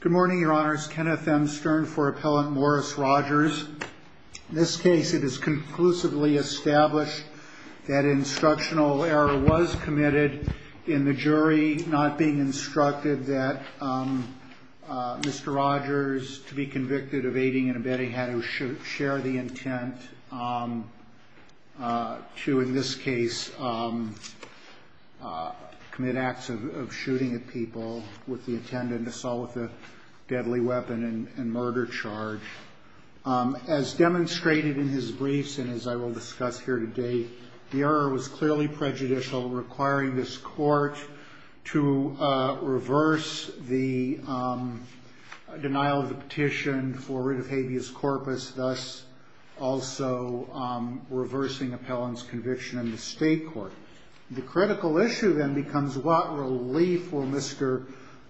Good morning, Your Honors. Kenneth M. Stern for Appellant Morris Rogers. In this case, it is conclusively established that instructional error was committed in the jury, not being instructed that Mr. Rogers, to be convicted of aiding and abetting, had to share the intent to, in this case, commit acts of shooting at people with the intended assault with a deadly weapon and murder charge. As demonstrated in his briefs and as I will discuss here today, the error was clearly prejudicial, requiring this court to reverse the denial of the petition for writ of habeas corpus, thus also reversing appellant's conviction in the state court. The critical issue then becomes what relief will Mr.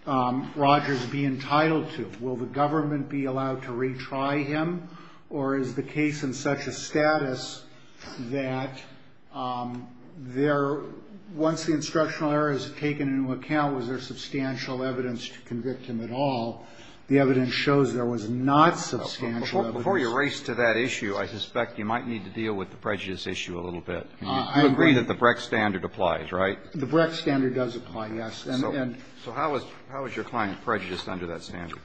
Rogers be entitled to? Will the government be allowed to retry him, or is the case in such a status that once the instructional error is taken into account, was there substantial evidence to convict him at all? The evidence shows there was not substantial evidence. Before you race to that issue, I suspect you might need to deal with the prejudice issue a little bit. You agree that the Brecht standard applies, right? The Brecht standard does apply, yes. And so how is your client prejudiced under that standard?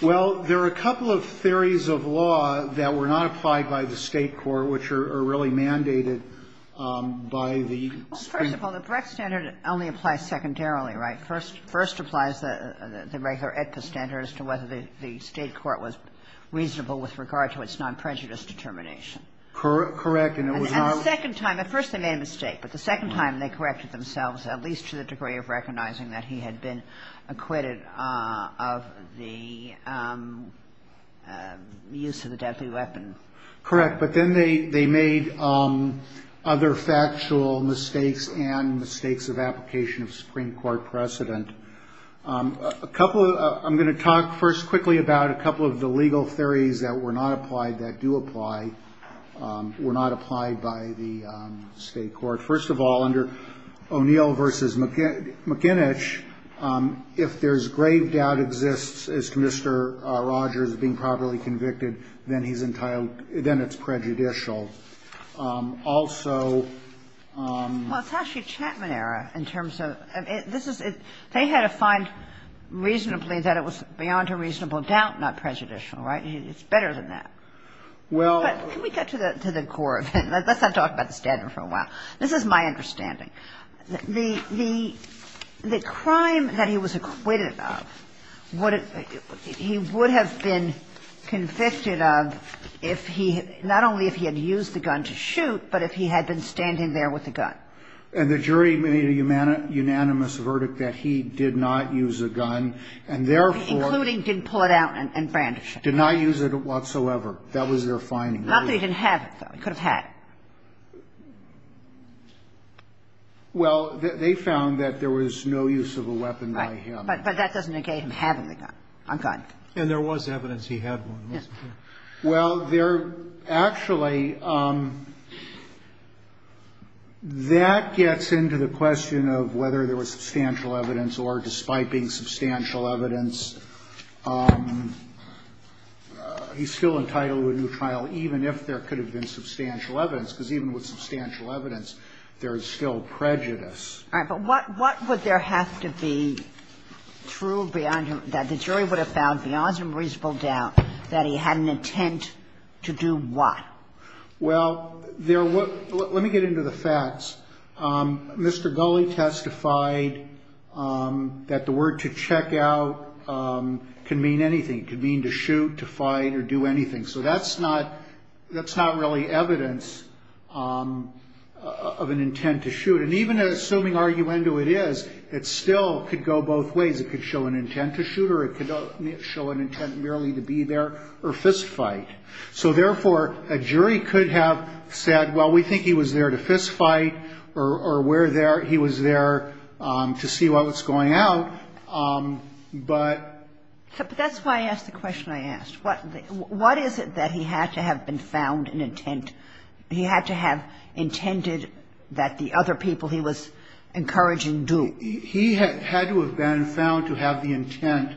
Well, there are a couple of theories of law that were not applied by the state court which are really mandated by the state. Well, first of all, the Brecht standard only applies secondarily, right? First applies the regular Aetna standard as to whether the state court was reasonable with regard to its non-prejudice determination. Correct. And it was not the second time. At first they made a mistake, but the second time they corrected themselves at least to the degree of recognizing that he had been acquitted of the use of the deadly weapon. Correct. But then they made other factual mistakes and mistakes of application of Supreme Court precedent. I'm going to talk first quickly about a couple of the legal theories that were not applied that do apply, were not applied by the state court. First of all, under O'Neill v. McInnish, if there's grave doubt exists as to Mr. Rogers being properly convicted, then he's entitled to be, then it's prejudicial. Also... Well, it's actually Chapman-era in terms of this is they had to find reasonably that it was beyond a reasonable doubt not prejudicial, right? It's better than that. Well... Can we get to the core of it? Let's not talk about the standard for a while. This is my understanding. The crime that he was acquitted of, he would have been convicted of if he, not only if he had used the gun to shoot, but if he had been standing there with the gun. And the jury made a unanimous verdict that he did not use a gun, and therefore... Including didn't pull it out and brandish it. Did not use it whatsoever. That was their finding. Not that he didn't have it, though. He could have had it. Well, they found that there was no use of a weapon by him. Right. But that doesn't negate him having the gun. And there was evidence he had one, wasn't there? Yes. Well, there actually, that gets into the question of whether there was substantial evidence, or despite being substantial evidence, he's still entitled to a new trial, even if there could have been substantial evidence. Because even with substantial evidence, there is still prejudice. All right. But what would there have to be true beyond that? The jury would have found, beyond some reasonable doubt, that he had an intent to do what? Well, let me get into the facts. Mr. Gulley testified that the word to check out can mean anything. It could mean to shoot, to fight, or do anything. So that's not really evidence of an intent to shoot. And even assuming arguendo it is, it still could go both ways. It could show an intent to shoot, or it could show an intent merely to be there, or fistfight. So, therefore, a jury could have said, well, we think he was there to fistfight, or he was there to see what was going out. But that's why I asked the question I asked. What is it that he had to have been found an intent? He had to have intended that the other people he was encouraging do. He had to have been found to have the intent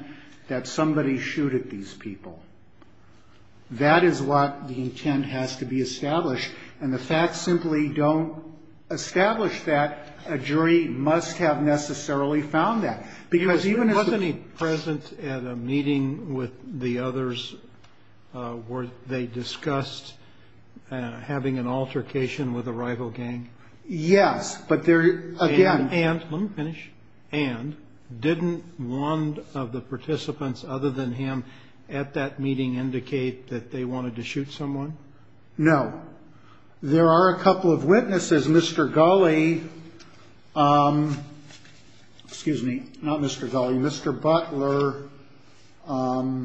that somebody shooted these people. That is what the intent has to be established. And the facts simply don't establish that. A jury must have necessarily found that. Wasn't he present at a meeting with the others where they discussed having an altercation with a rival gang? Yes. And didn't one of the participants other than him at that meeting indicate that they wanted to shoot someone? No. There are a couple of witnesses. Mr. Gulley, excuse me, not Mr. Gulley, Mr. Butler and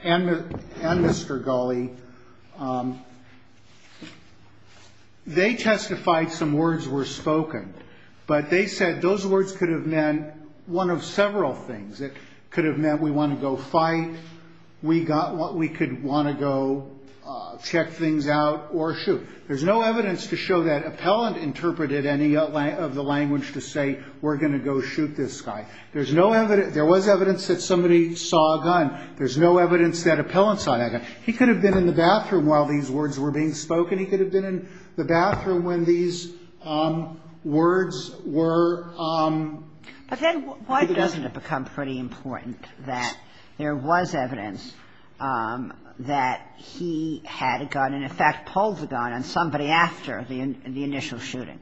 Mr. Gulley, they testified some words were spoken. But they said those words could have meant one of several things. It could have meant we want to go fight. We could want to go check things out or shoot. There's no evidence to show that appellant interpreted any of the language to say we're going to go shoot this guy. There's no evidence. There was evidence that somebody saw a gun. There's no evidence that appellant saw that gun. He could have been in the bathroom while these words were being spoken. He could have been in the bathroom when these words were. But then why doesn't it become pretty important that there was evidence that he had a gun and, in fact, pulled the gun on somebody after the initial shooting?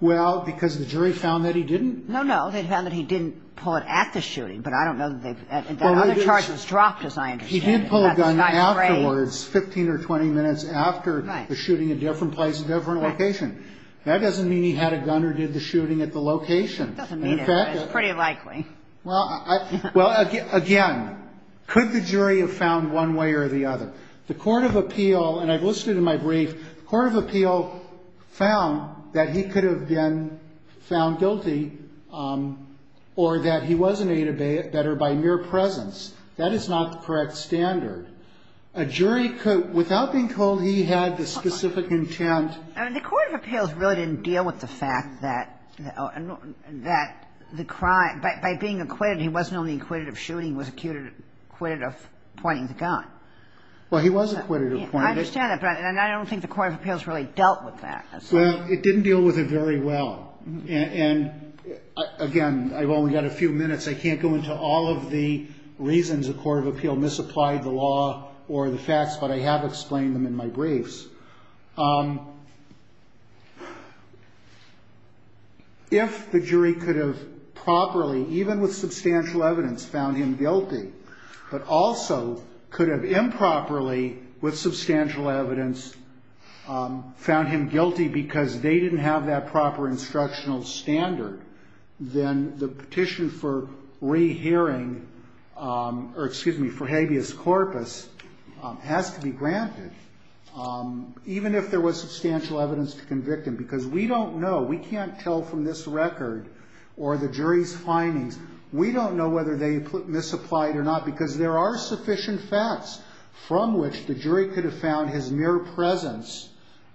Well, because the jury found that he didn't. No, no. They found that he didn't pull it at the shooting. But I don't know that other charges dropped, as I understand it. He did pull a gun afterwards, 15 or 20 minutes after the shooting, a different place, a different location. That doesn't mean he had a gun or did the shooting at the location. It doesn't mean it. But it's pretty likely. Well, again, could the jury have found one way or the other? The court of appeal, and I've listed in my brief, the court of appeal found that he could have been found guilty or that he was in a debate that are by mere presence. That is not the correct standard. A jury could, without being told he had the specific intent. I mean, the court of appeals really didn't deal with the fact that the crime, by being acquitted, he wasn't only acquitted of shooting, he was acquitted of pointing the gun. Well, he was acquitted of pointing it. I understand that, but I don't think the court of appeals really dealt with that. Well, it didn't deal with it very well. And, again, I've only got a few minutes. I can't go into all of the reasons the court of appeal misapplied the law or the facts, but I have explained them in my briefs. If the jury could have properly, even with substantial evidence, found him guilty, but also could have improperly, with substantial evidence, found him guilty because they didn't have that proper instructional standard, then the petition for rehearing or, excuse me, for habeas corpus has to be granted, even if there was substantial evidence to convict him. Because we don't know. We can't tell from this record or the jury's findings. We don't know whether they misapplied or not because there are sufficient facts from which the jury could have found his mere presence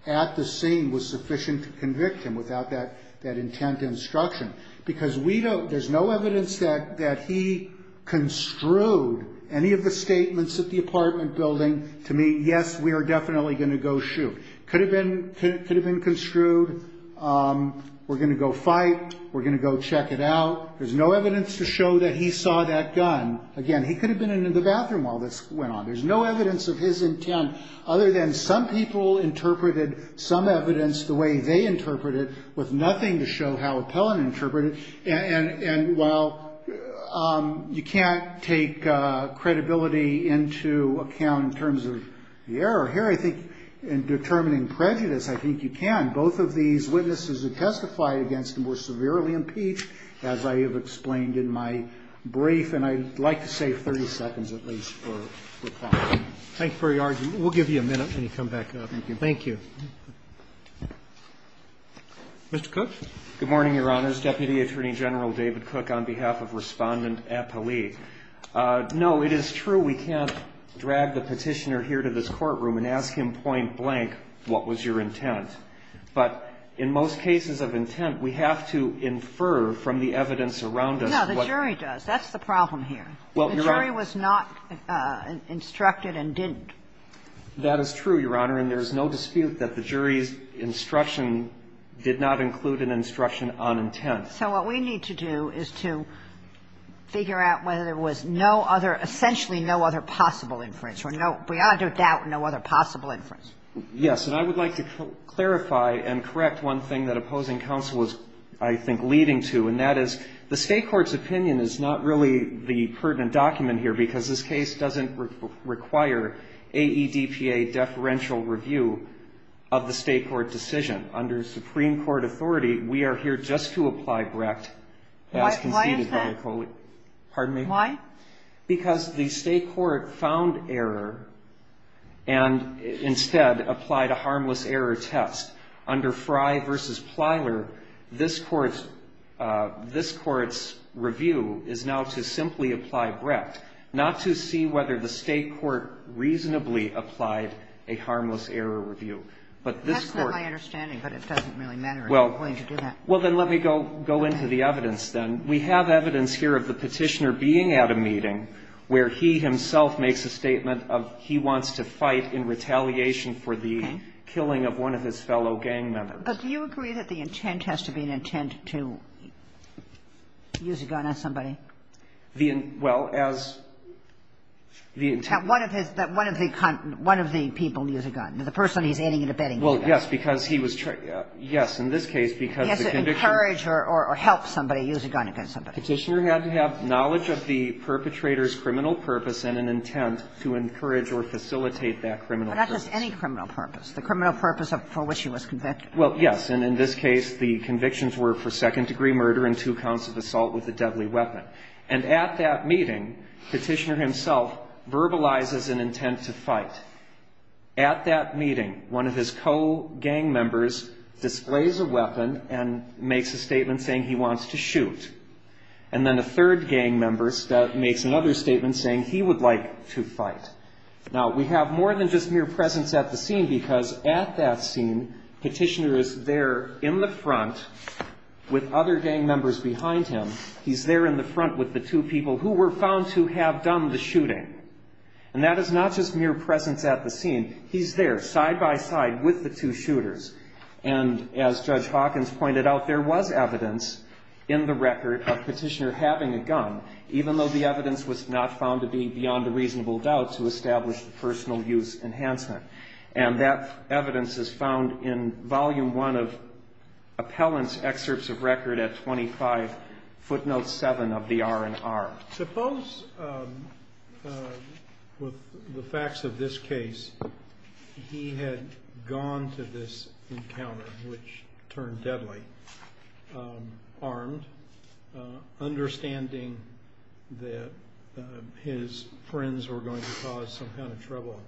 at the scene was sufficient to convict him without that intent instruction. Because we don't, there's no evidence that he construed any of the statements at the apartment building to mean, yes, we are definitely going to go shoot. Could have been construed, we're going to go fight, we're going to go check it out. There's no evidence to show that he saw that gun. Again, he could have been in the bathroom while this went on. There's no evidence of his intent other than some people interpreted some evidence the way they interpreted it with nothing to show how Appellant interpreted it. And while you can't take credibility into account in terms of the error here, I think in determining prejudice, I think you can. Both of these witnesses who testified against him were severely impeached, as I have explained in my brief. And I'd like to save 30 seconds, at least, for reply. Roberts. Thank you very much. We'll give you a minute when you come back up. Thank you. Mr. Cook. Good morning, Your Honors. Deputy Attorney General David Cook on behalf of Respondent Appellee. No, it is true we can't drag the Petitioner here to this courtroom and ask him point blank what was your intent. But in most cases of intent, we have to infer from the evidence around us. No, the jury does. That's the problem here. The jury was not instructed and didn't. That is true, Your Honor. And there is no dispute that the jury's instruction did not include an instruction on intent. So what we need to do is to figure out whether there was no other, essentially no other possible inference or no, beyond a doubt, no other possible inference. Yes. And I would like to clarify and correct one thing that opposing counsel was, I think, leading to, and that is the State Court's opinion is not really the pertinent document here because this case doesn't require AEDPA deferential review of the State Court decision. Under Supreme Court authority, we are here just to apply Brecht. Why is that? Pardon me? Why? Because the State Court found error and instead applied a harmless error test. Under Frey v. Plyler, this Court's review is now to simply apply Brecht, not to see whether the State Court reasonably applied a harmless error review. But this Court That's not my understanding, but it doesn't really matter if you're going to do that. Well, then let me go into the evidence then. We have evidence here of the Petitioner being at a meeting where he himself makes a statement of he wants to fight in retaliation for the killing of one of his fellow gang members. But do you agree that the intent has to be an intent to use a gun on somebody? Well, as the intent one of his one of the one of the people use a gun, the person he's aiding and abetting. Well, yes, because he was. Yes. In this case, because the conviction. He has to encourage or help somebody use a gun against somebody. Petitioner had to have knowledge of the perpetrator's criminal purpose and an intent to encourage or facilitate that criminal purpose. But not just any criminal purpose. The criminal purpose for which he was convicted. Well, yes. And in this case, the convictions were for second-degree murder and two counts of assault with a deadly weapon. And at that meeting, Petitioner himself verbalizes an intent to fight. At that meeting, one of his co-gang members displays a weapon and makes a statement saying he wants to shoot. And then a third gang member makes another statement saying he would like to fight. Now, we have more than just mere presence at the scene because at that scene, Petitioner is there in the front with other gang members behind him. He's there in the front with the two people who were found to have done the shooting. And that is not just mere presence at the scene. He's there side-by-side with the two shooters. And as Judge Hawkins pointed out, there was evidence in the record of Petitioner having a gun, even though the evidence was not found to be beyond a reasonable doubt to establish the personal use enhancement. And that evidence is found in Volume 1 of Appellant's Excerpts of Record at 25, footnote 7 of the R&R. Now, suppose with the facts of this case, he had gone to this encounter, which turned deadly, armed, understanding that his friends were going to cause some kind of trouble.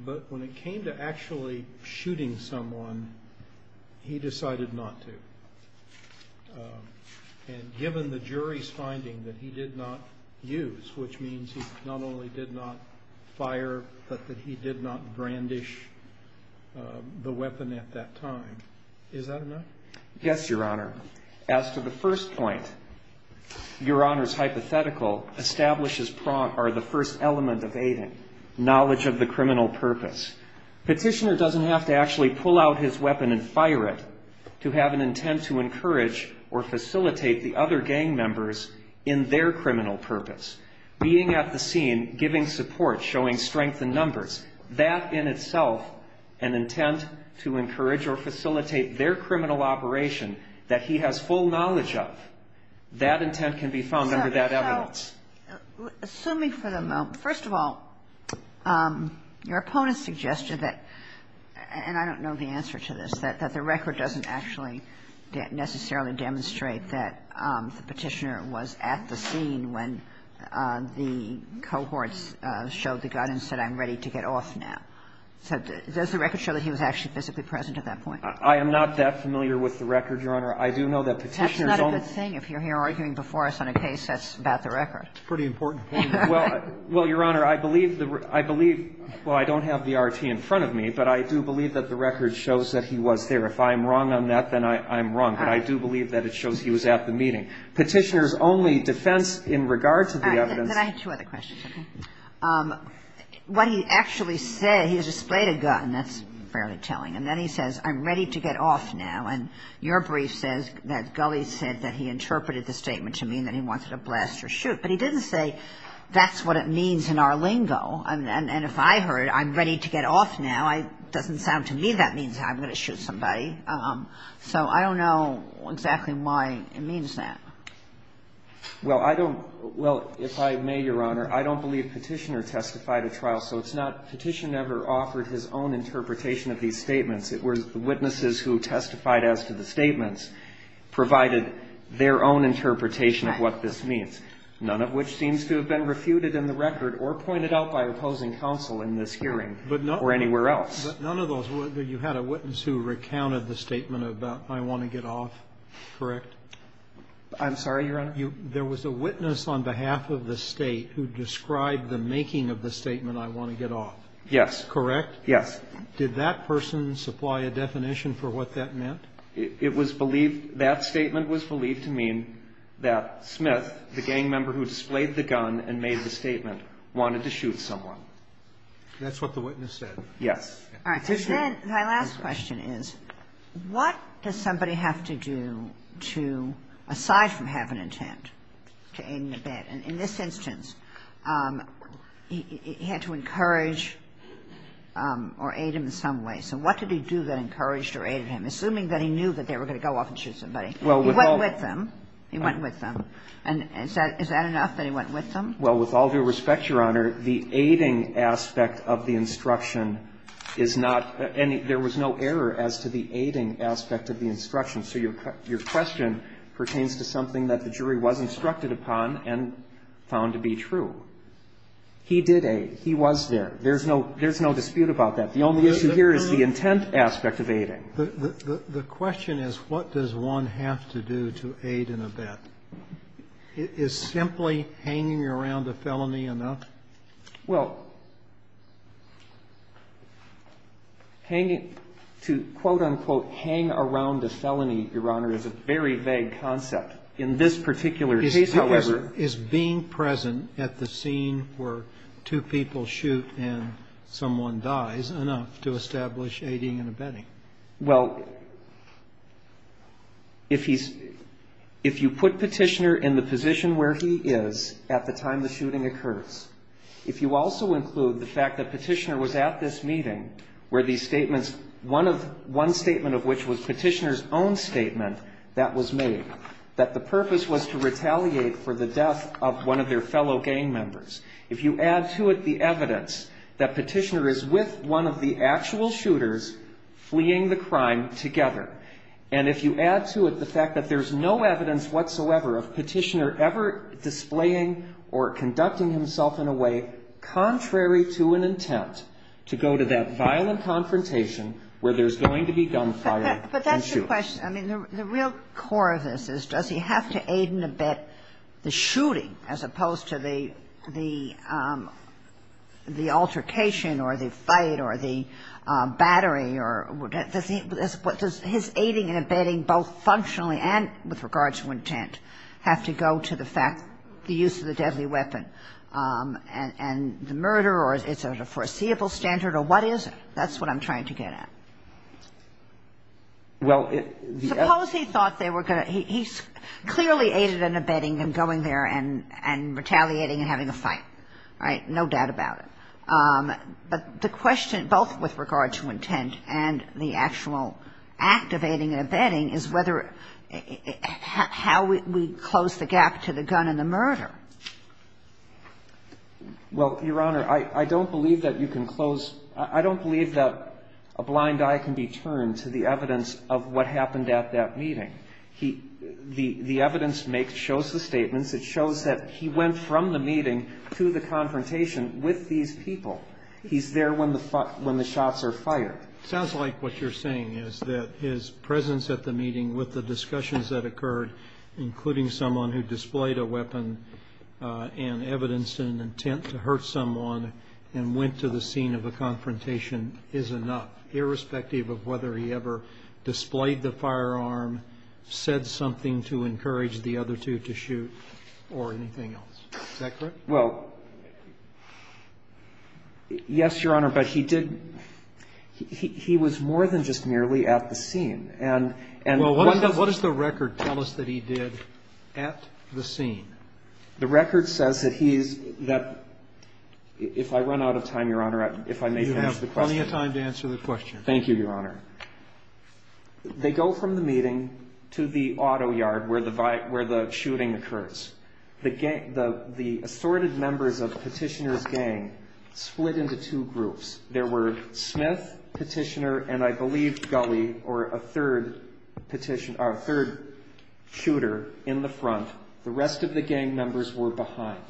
But when it came to actually shooting someone, he decided not to. And given the jury's finding that he did not use, which means he not only did not fire, but that he did not brandish the weapon at that time. Is that enough? Yes, Your Honor. As to the first point, Your Honor's hypothetical establishes the first element of aiding, knowledge of the criminal purpose. Petitioner doesn't have to actually pull out his weapon and fire it to have an intent to encourage or facilitate the other gang members in their criminal purpose. Being at the scene, giving support, showing strength in numbers, that in itself, an intent to encourage or facilitate their criminal operation that he has full knowledge of, that intent can be found under that evidence. Assuming for the moment. First of all, your opponent suggested that, and I don't know the answer to this, that the record doesn't actually necessarily demonstrate that the Petitioner was at the scene when the cohorts showed the gun and said, I'm ready to get off now. So does the record show that he was actually physically present at that point? I am not that familiar with the record, Your Honor. I do know that Petitioner's own. And that's a good thing. If you're here arguing before us on a case, that's about the record. It's a pretty important point. Well, Your Honor, I believe the record. I believe, well, I don't have the RT in front of me, but I do believe that the record shows that he was there. If I'm wrong on that, then I'm wrong. But I do believe that it shows he was at the meeting. Petitioner's only defense in regard to the evidence. All right. Then I have two other questions, okay? What he actually said, he displayed a gun. That's fairly telling. And then he says, I'm ready to get off now. And your brief says that Gulley said that he interpreted the statement to mean that he wanted to blast or shoot. But he didn't say, that's what it means in our lingo. And if I heard, I'm ready to get off now, it doesn't sound to me that means I'm going to shoot somebody. So I don't know exactly why it means that. Well, I don't – well, if I may, Your Honor, I don't believe Petitioner testified at trial. So it's not Petitioner ever offered his own interpretation of these statements. It was the witnesses who testified as to the statements provided their own interpretation of what this means, none of which seems to have been refuted in the record or pointed out by opposing counsel in this hearing or anywhere else. But none of those – you had a witness who recounted the statement about I want to get off, correct? I'm sorry, Your Honor? There was a witness on behalf of the State who described the making of the statement I want to get off. Correct? Did that person supply a definition for what that meant? It was believed – that statement was believed to mean that Smith, the gang member who displayed the gun and made the statement, wanted to shoot someone. That's what the witness said? Yes. All right. My last question is, what does somebody have to do to, aside from have an intent to aid him in bed? In this instance, he had to encourage or aid him in some way. So what did he do that encouraged or aided him, assuming that he knew that they were going to go off and shoot somebody? He went with them. He went with them. And is that enough that he went with them? Well, with all due respect, Your Honor, the aiding aspect of the instruction is not any – there was no error as to the aiding aspect of the instruction. So your question pertains to something that the jury was instructed upon and found to be true. He did aid. He was there. There's no dispute about that. The only issue here is the intent aspect of aiding. The question is, what does one have to do to aid in a bed? Is simply hanging around a felony enough? Well, hanging – to quote, unquote, hang around a felony, Your Honor, is a very vague concept. In this particular case, however – Is being present at the scene where two people shoot and someone dies enough to establish aiding and abetting? Well, if he's – if you put Petitioner in the position where he is at the time the fact that Petitioner was at this meeting where these statements – one of – one statement of which was Petitioner's own statement that was made, that the purpose was to retaliate for the death of one of their fellow gang members. If you add to it the evidence that Petitioner is with one of the actual shooters fleeing the crime together, and if you add to it the fact that there's no evidence whatsoever of Petitioner ever displaying or conducting himself in a way contrary to an intent to go to that violent confrontation where there's going to be gunfire and shoot. But that's the question. I mean, the real core of this is, does he have to aid and abet the shooting as opposed to the altercation or the fight or the battery or – does he – what does his aiding and abetting, both functionally and with regards to intent, have to go to the fact – the use of the deadly weapon and the murder, or is it a foreseeable standard or what is it? That's what I'm trying to get at. Suppose he thought they were going to – he clearly aided and abetting him going there and retaliating and having a fight, right? No doubt about it. But the question, both with regard to intent and the actual activating and abetting, is whether – how we close the gap to the gun and the murder. Well, Your Honor, I don't believe that you can close – I don't believe that a blind eye can be turned to the evidence of what happened at that meeting. Because it shows that he went from the meeting to the confrontation with these people. He's there when the shots are fired. Sounds like what you're saying is that his presence at the meeting with the discussions that occurred, including someone who displayed a weapon and evidenced an intent to hurt someone and went to the scene of a confrontation, is enough, irrespective of whether he ever displayed the firearm, said something to encourage the other two to shoot or anything else. Is that correct? Well, yes, Your Honor, but he did – he was more than just merely at the scene. And what does the record tell us that he did at the scene? The record says that he's – that if I run out of time, Your Honor, if I may answer the question. You have plenty of time to answer the question. Thank you, Your Honor. They go from the meeting to the auto yard where the shooting occurs. The assorted members of Petitioner's gang split into two groups. There were Smith, Petitioner, and I believe Gulley, or a third shooter, in the front. The rest of the gang members were behind.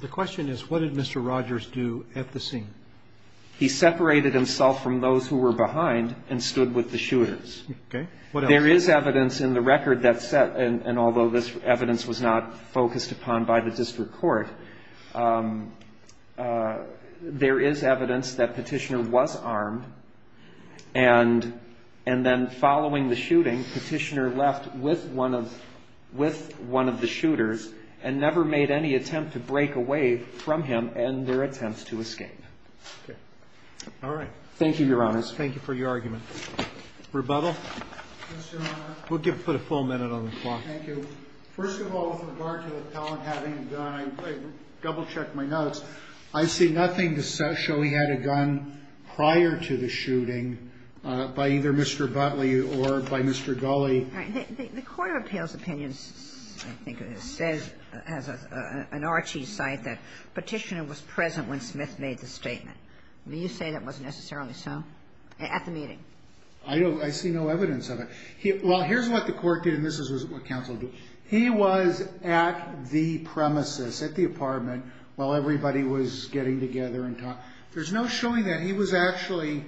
The question is, what did Mr. Rogers do at the scene? He separated himself from those who were behind and stood with the shooters. Okay. What else? There is evidence in the record that – and although this evidence was not focused upon by the district court, there is evidence that Petitioner was armed and then following the shooting, Petitioner left with one of the shooters and never made any attempt to break away from him and their attempt to escape. Okay. All right. Thank you, Your Honor. Thank you for your argument. Rebuttal? Yes, Your Honor. We'll put a full minute on the clock. Thank you. First of all, with regard to the appellant having a gun, I double-checked my notes. I see nothing to show he had a gun prior to the shooting by either Mr. Butler or by Mr. Gulley. All right. The court of appeals opinions, I think, says as an Archie site that Petitioner was present when Smith made the statement. Do you say that wasn't necessarily so at the meeting? I don't. I see no evidence of it. Well, here's what the court did, and this is what counsel did. He was at the premises, at the apartment, while everybody was getting together and talking. There's no showing that he was actually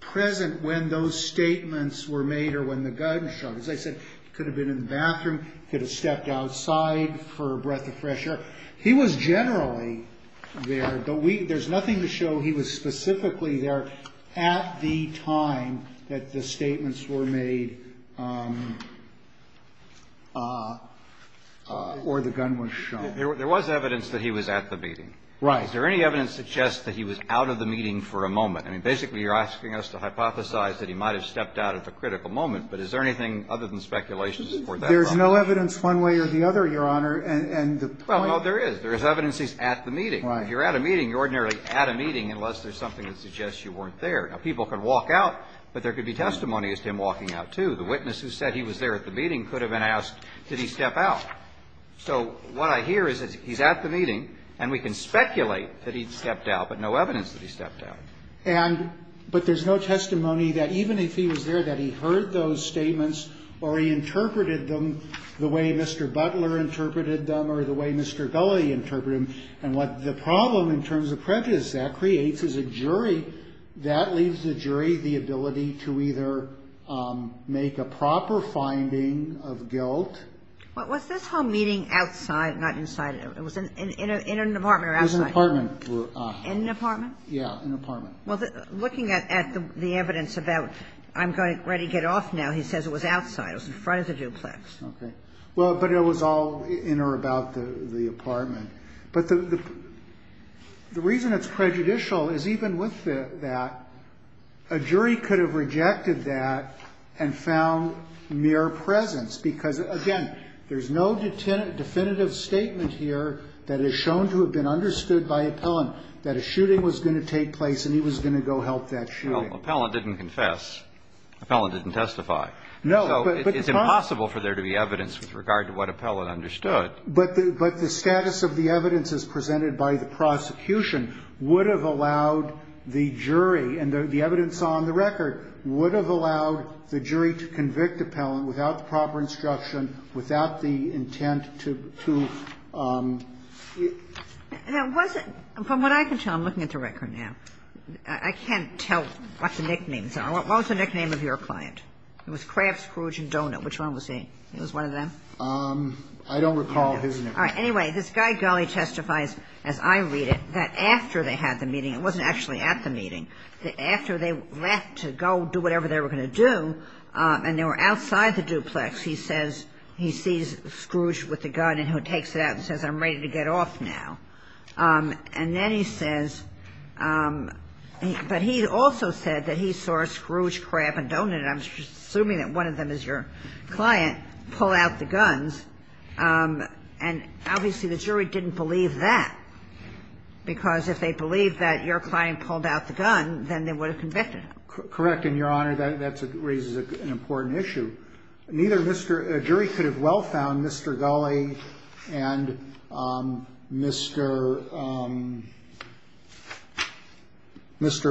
present when those statements were made or when the gun shot. As I said, he could have been in the bathroom, could have stepped outside for a breath of fresh air. He was generally there. There's nothing to show he was specifically there at the time that the statements were made or the gun was shot. There was evidence that he was at the meeting. Right. Is there any evidence to suggest that he was out of the meeting for a moment? I mean, basically, you're asking us to hypothesize that he might have stepped out at the critical moment. But is there anything other than speculations for that? There's no evidence one way or the other, Your Honor. And the point is that there is. Well, no, there is. There is evidence he's at the meeting. Right. If you're at a meeting, you're ordinarily at a meeting unless there's something that suggests you weren't there. Now, people can walk out, but there could be testimony as to him walking out, too. The witness who said he was there at the meeting could have been asked, did he step out? So what I hear is that he's at the meeting, and we can speculate that he stepped out, but no evidence that he stepped out. And but there's no testimony that even if he was there, that he heard those statements or he interpreted them the way Mr. Butler interpreted them or the way Mr. Gulley interpreted them. And what the problem in terms of prejudice that creates is a jury. That leaves the jury the ability to either make a proper finding of guilt. Well, was this home meeting outside, not inside? It was in an apartment or outside? It was an apartment. In an apartment? Yeah, an apartment. Well, looking at the evidence about I'm going to get off now, he says it was outside. It was in front of the duplex. Okay. Well, but it was all in or about the apartment. But the reason it's prejudicial is even with that, a jury could have rejected that and found mere presence, because, again, there's no definitive statement here that is shown to have been understood by Appellant that a shooting was going to take place and he was going to go help that shooting. Well, Appellant didn't confess. Appellant didn't testify. No, but the problem is. So it's impossible for there to be evidence with regard to what Appellant understood. But the status of the evidence as presented by the prosecution would have allowed to be made by the jury. The court is not free to judge a case. It's not free to judge a case. Okay. But the question is, is it possible that Appellant, without proper instruction, without the intent to... And it wasn't... From what I can tell, I'm looking at the record now. I can't tell what the nicknames are. What was the nickname of your client? It was Krabs, Cruge, and Donut. Which one was he? It was one of them? I don't recall his nickname. All right. Anyway, this guy, Gulley, testifies, as I read it, that after they had the meeting, it wasn't actually at the meeting, that after they left to go do whatever they were going to do, and they were outside the duplex, he says he sees Scrooge with the gun and he takes it out and says, I'm ready to get off now. And then he says... But he also said that he saw Scrooge, Krabs, and Donut, and I'm assuming that one of them is your client, pull out the guns, and obviously the jury didn't believe that because if they believed that your client pulled out the gun, then they would have convicted him. Correct, and, Your Honor, that raises an important issue. Neither Mr.... A jury could have well found Mr. Gulley and Mr.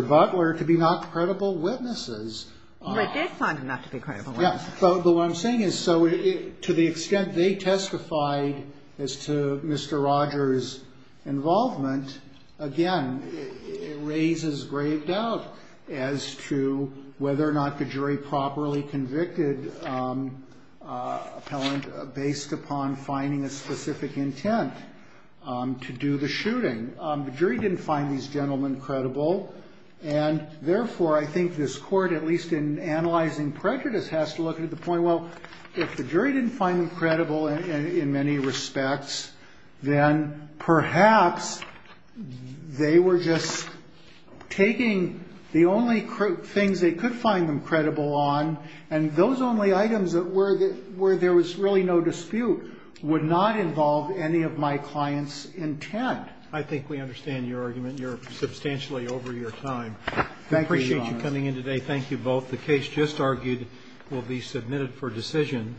Butler to be not credible witnesses. They did find them not to be credible witnesses. Yes, but what I'm saying is to the extent they testified as to Mr. Rogers' involvement, again, it raises grave doubt as to whether or not the jury properly convicted an appellant based upon finding a specific intent to do the shooting. The jury didn't find these gentlemen credible, and therefore I think this Court, at least in analyzing prejudice, has to look at the point, well, if the jury didn't find them credible in many respects, then perhaps they were just taking the only things they could find them credible on, and those only items where there was really no dispute would not involve any of my client's intent. I think we understand your argument. You're substantially over your time. Thank you, Your Honor. We appreciate you coming in today. Thank you both. The case just argued will be submitted for decision.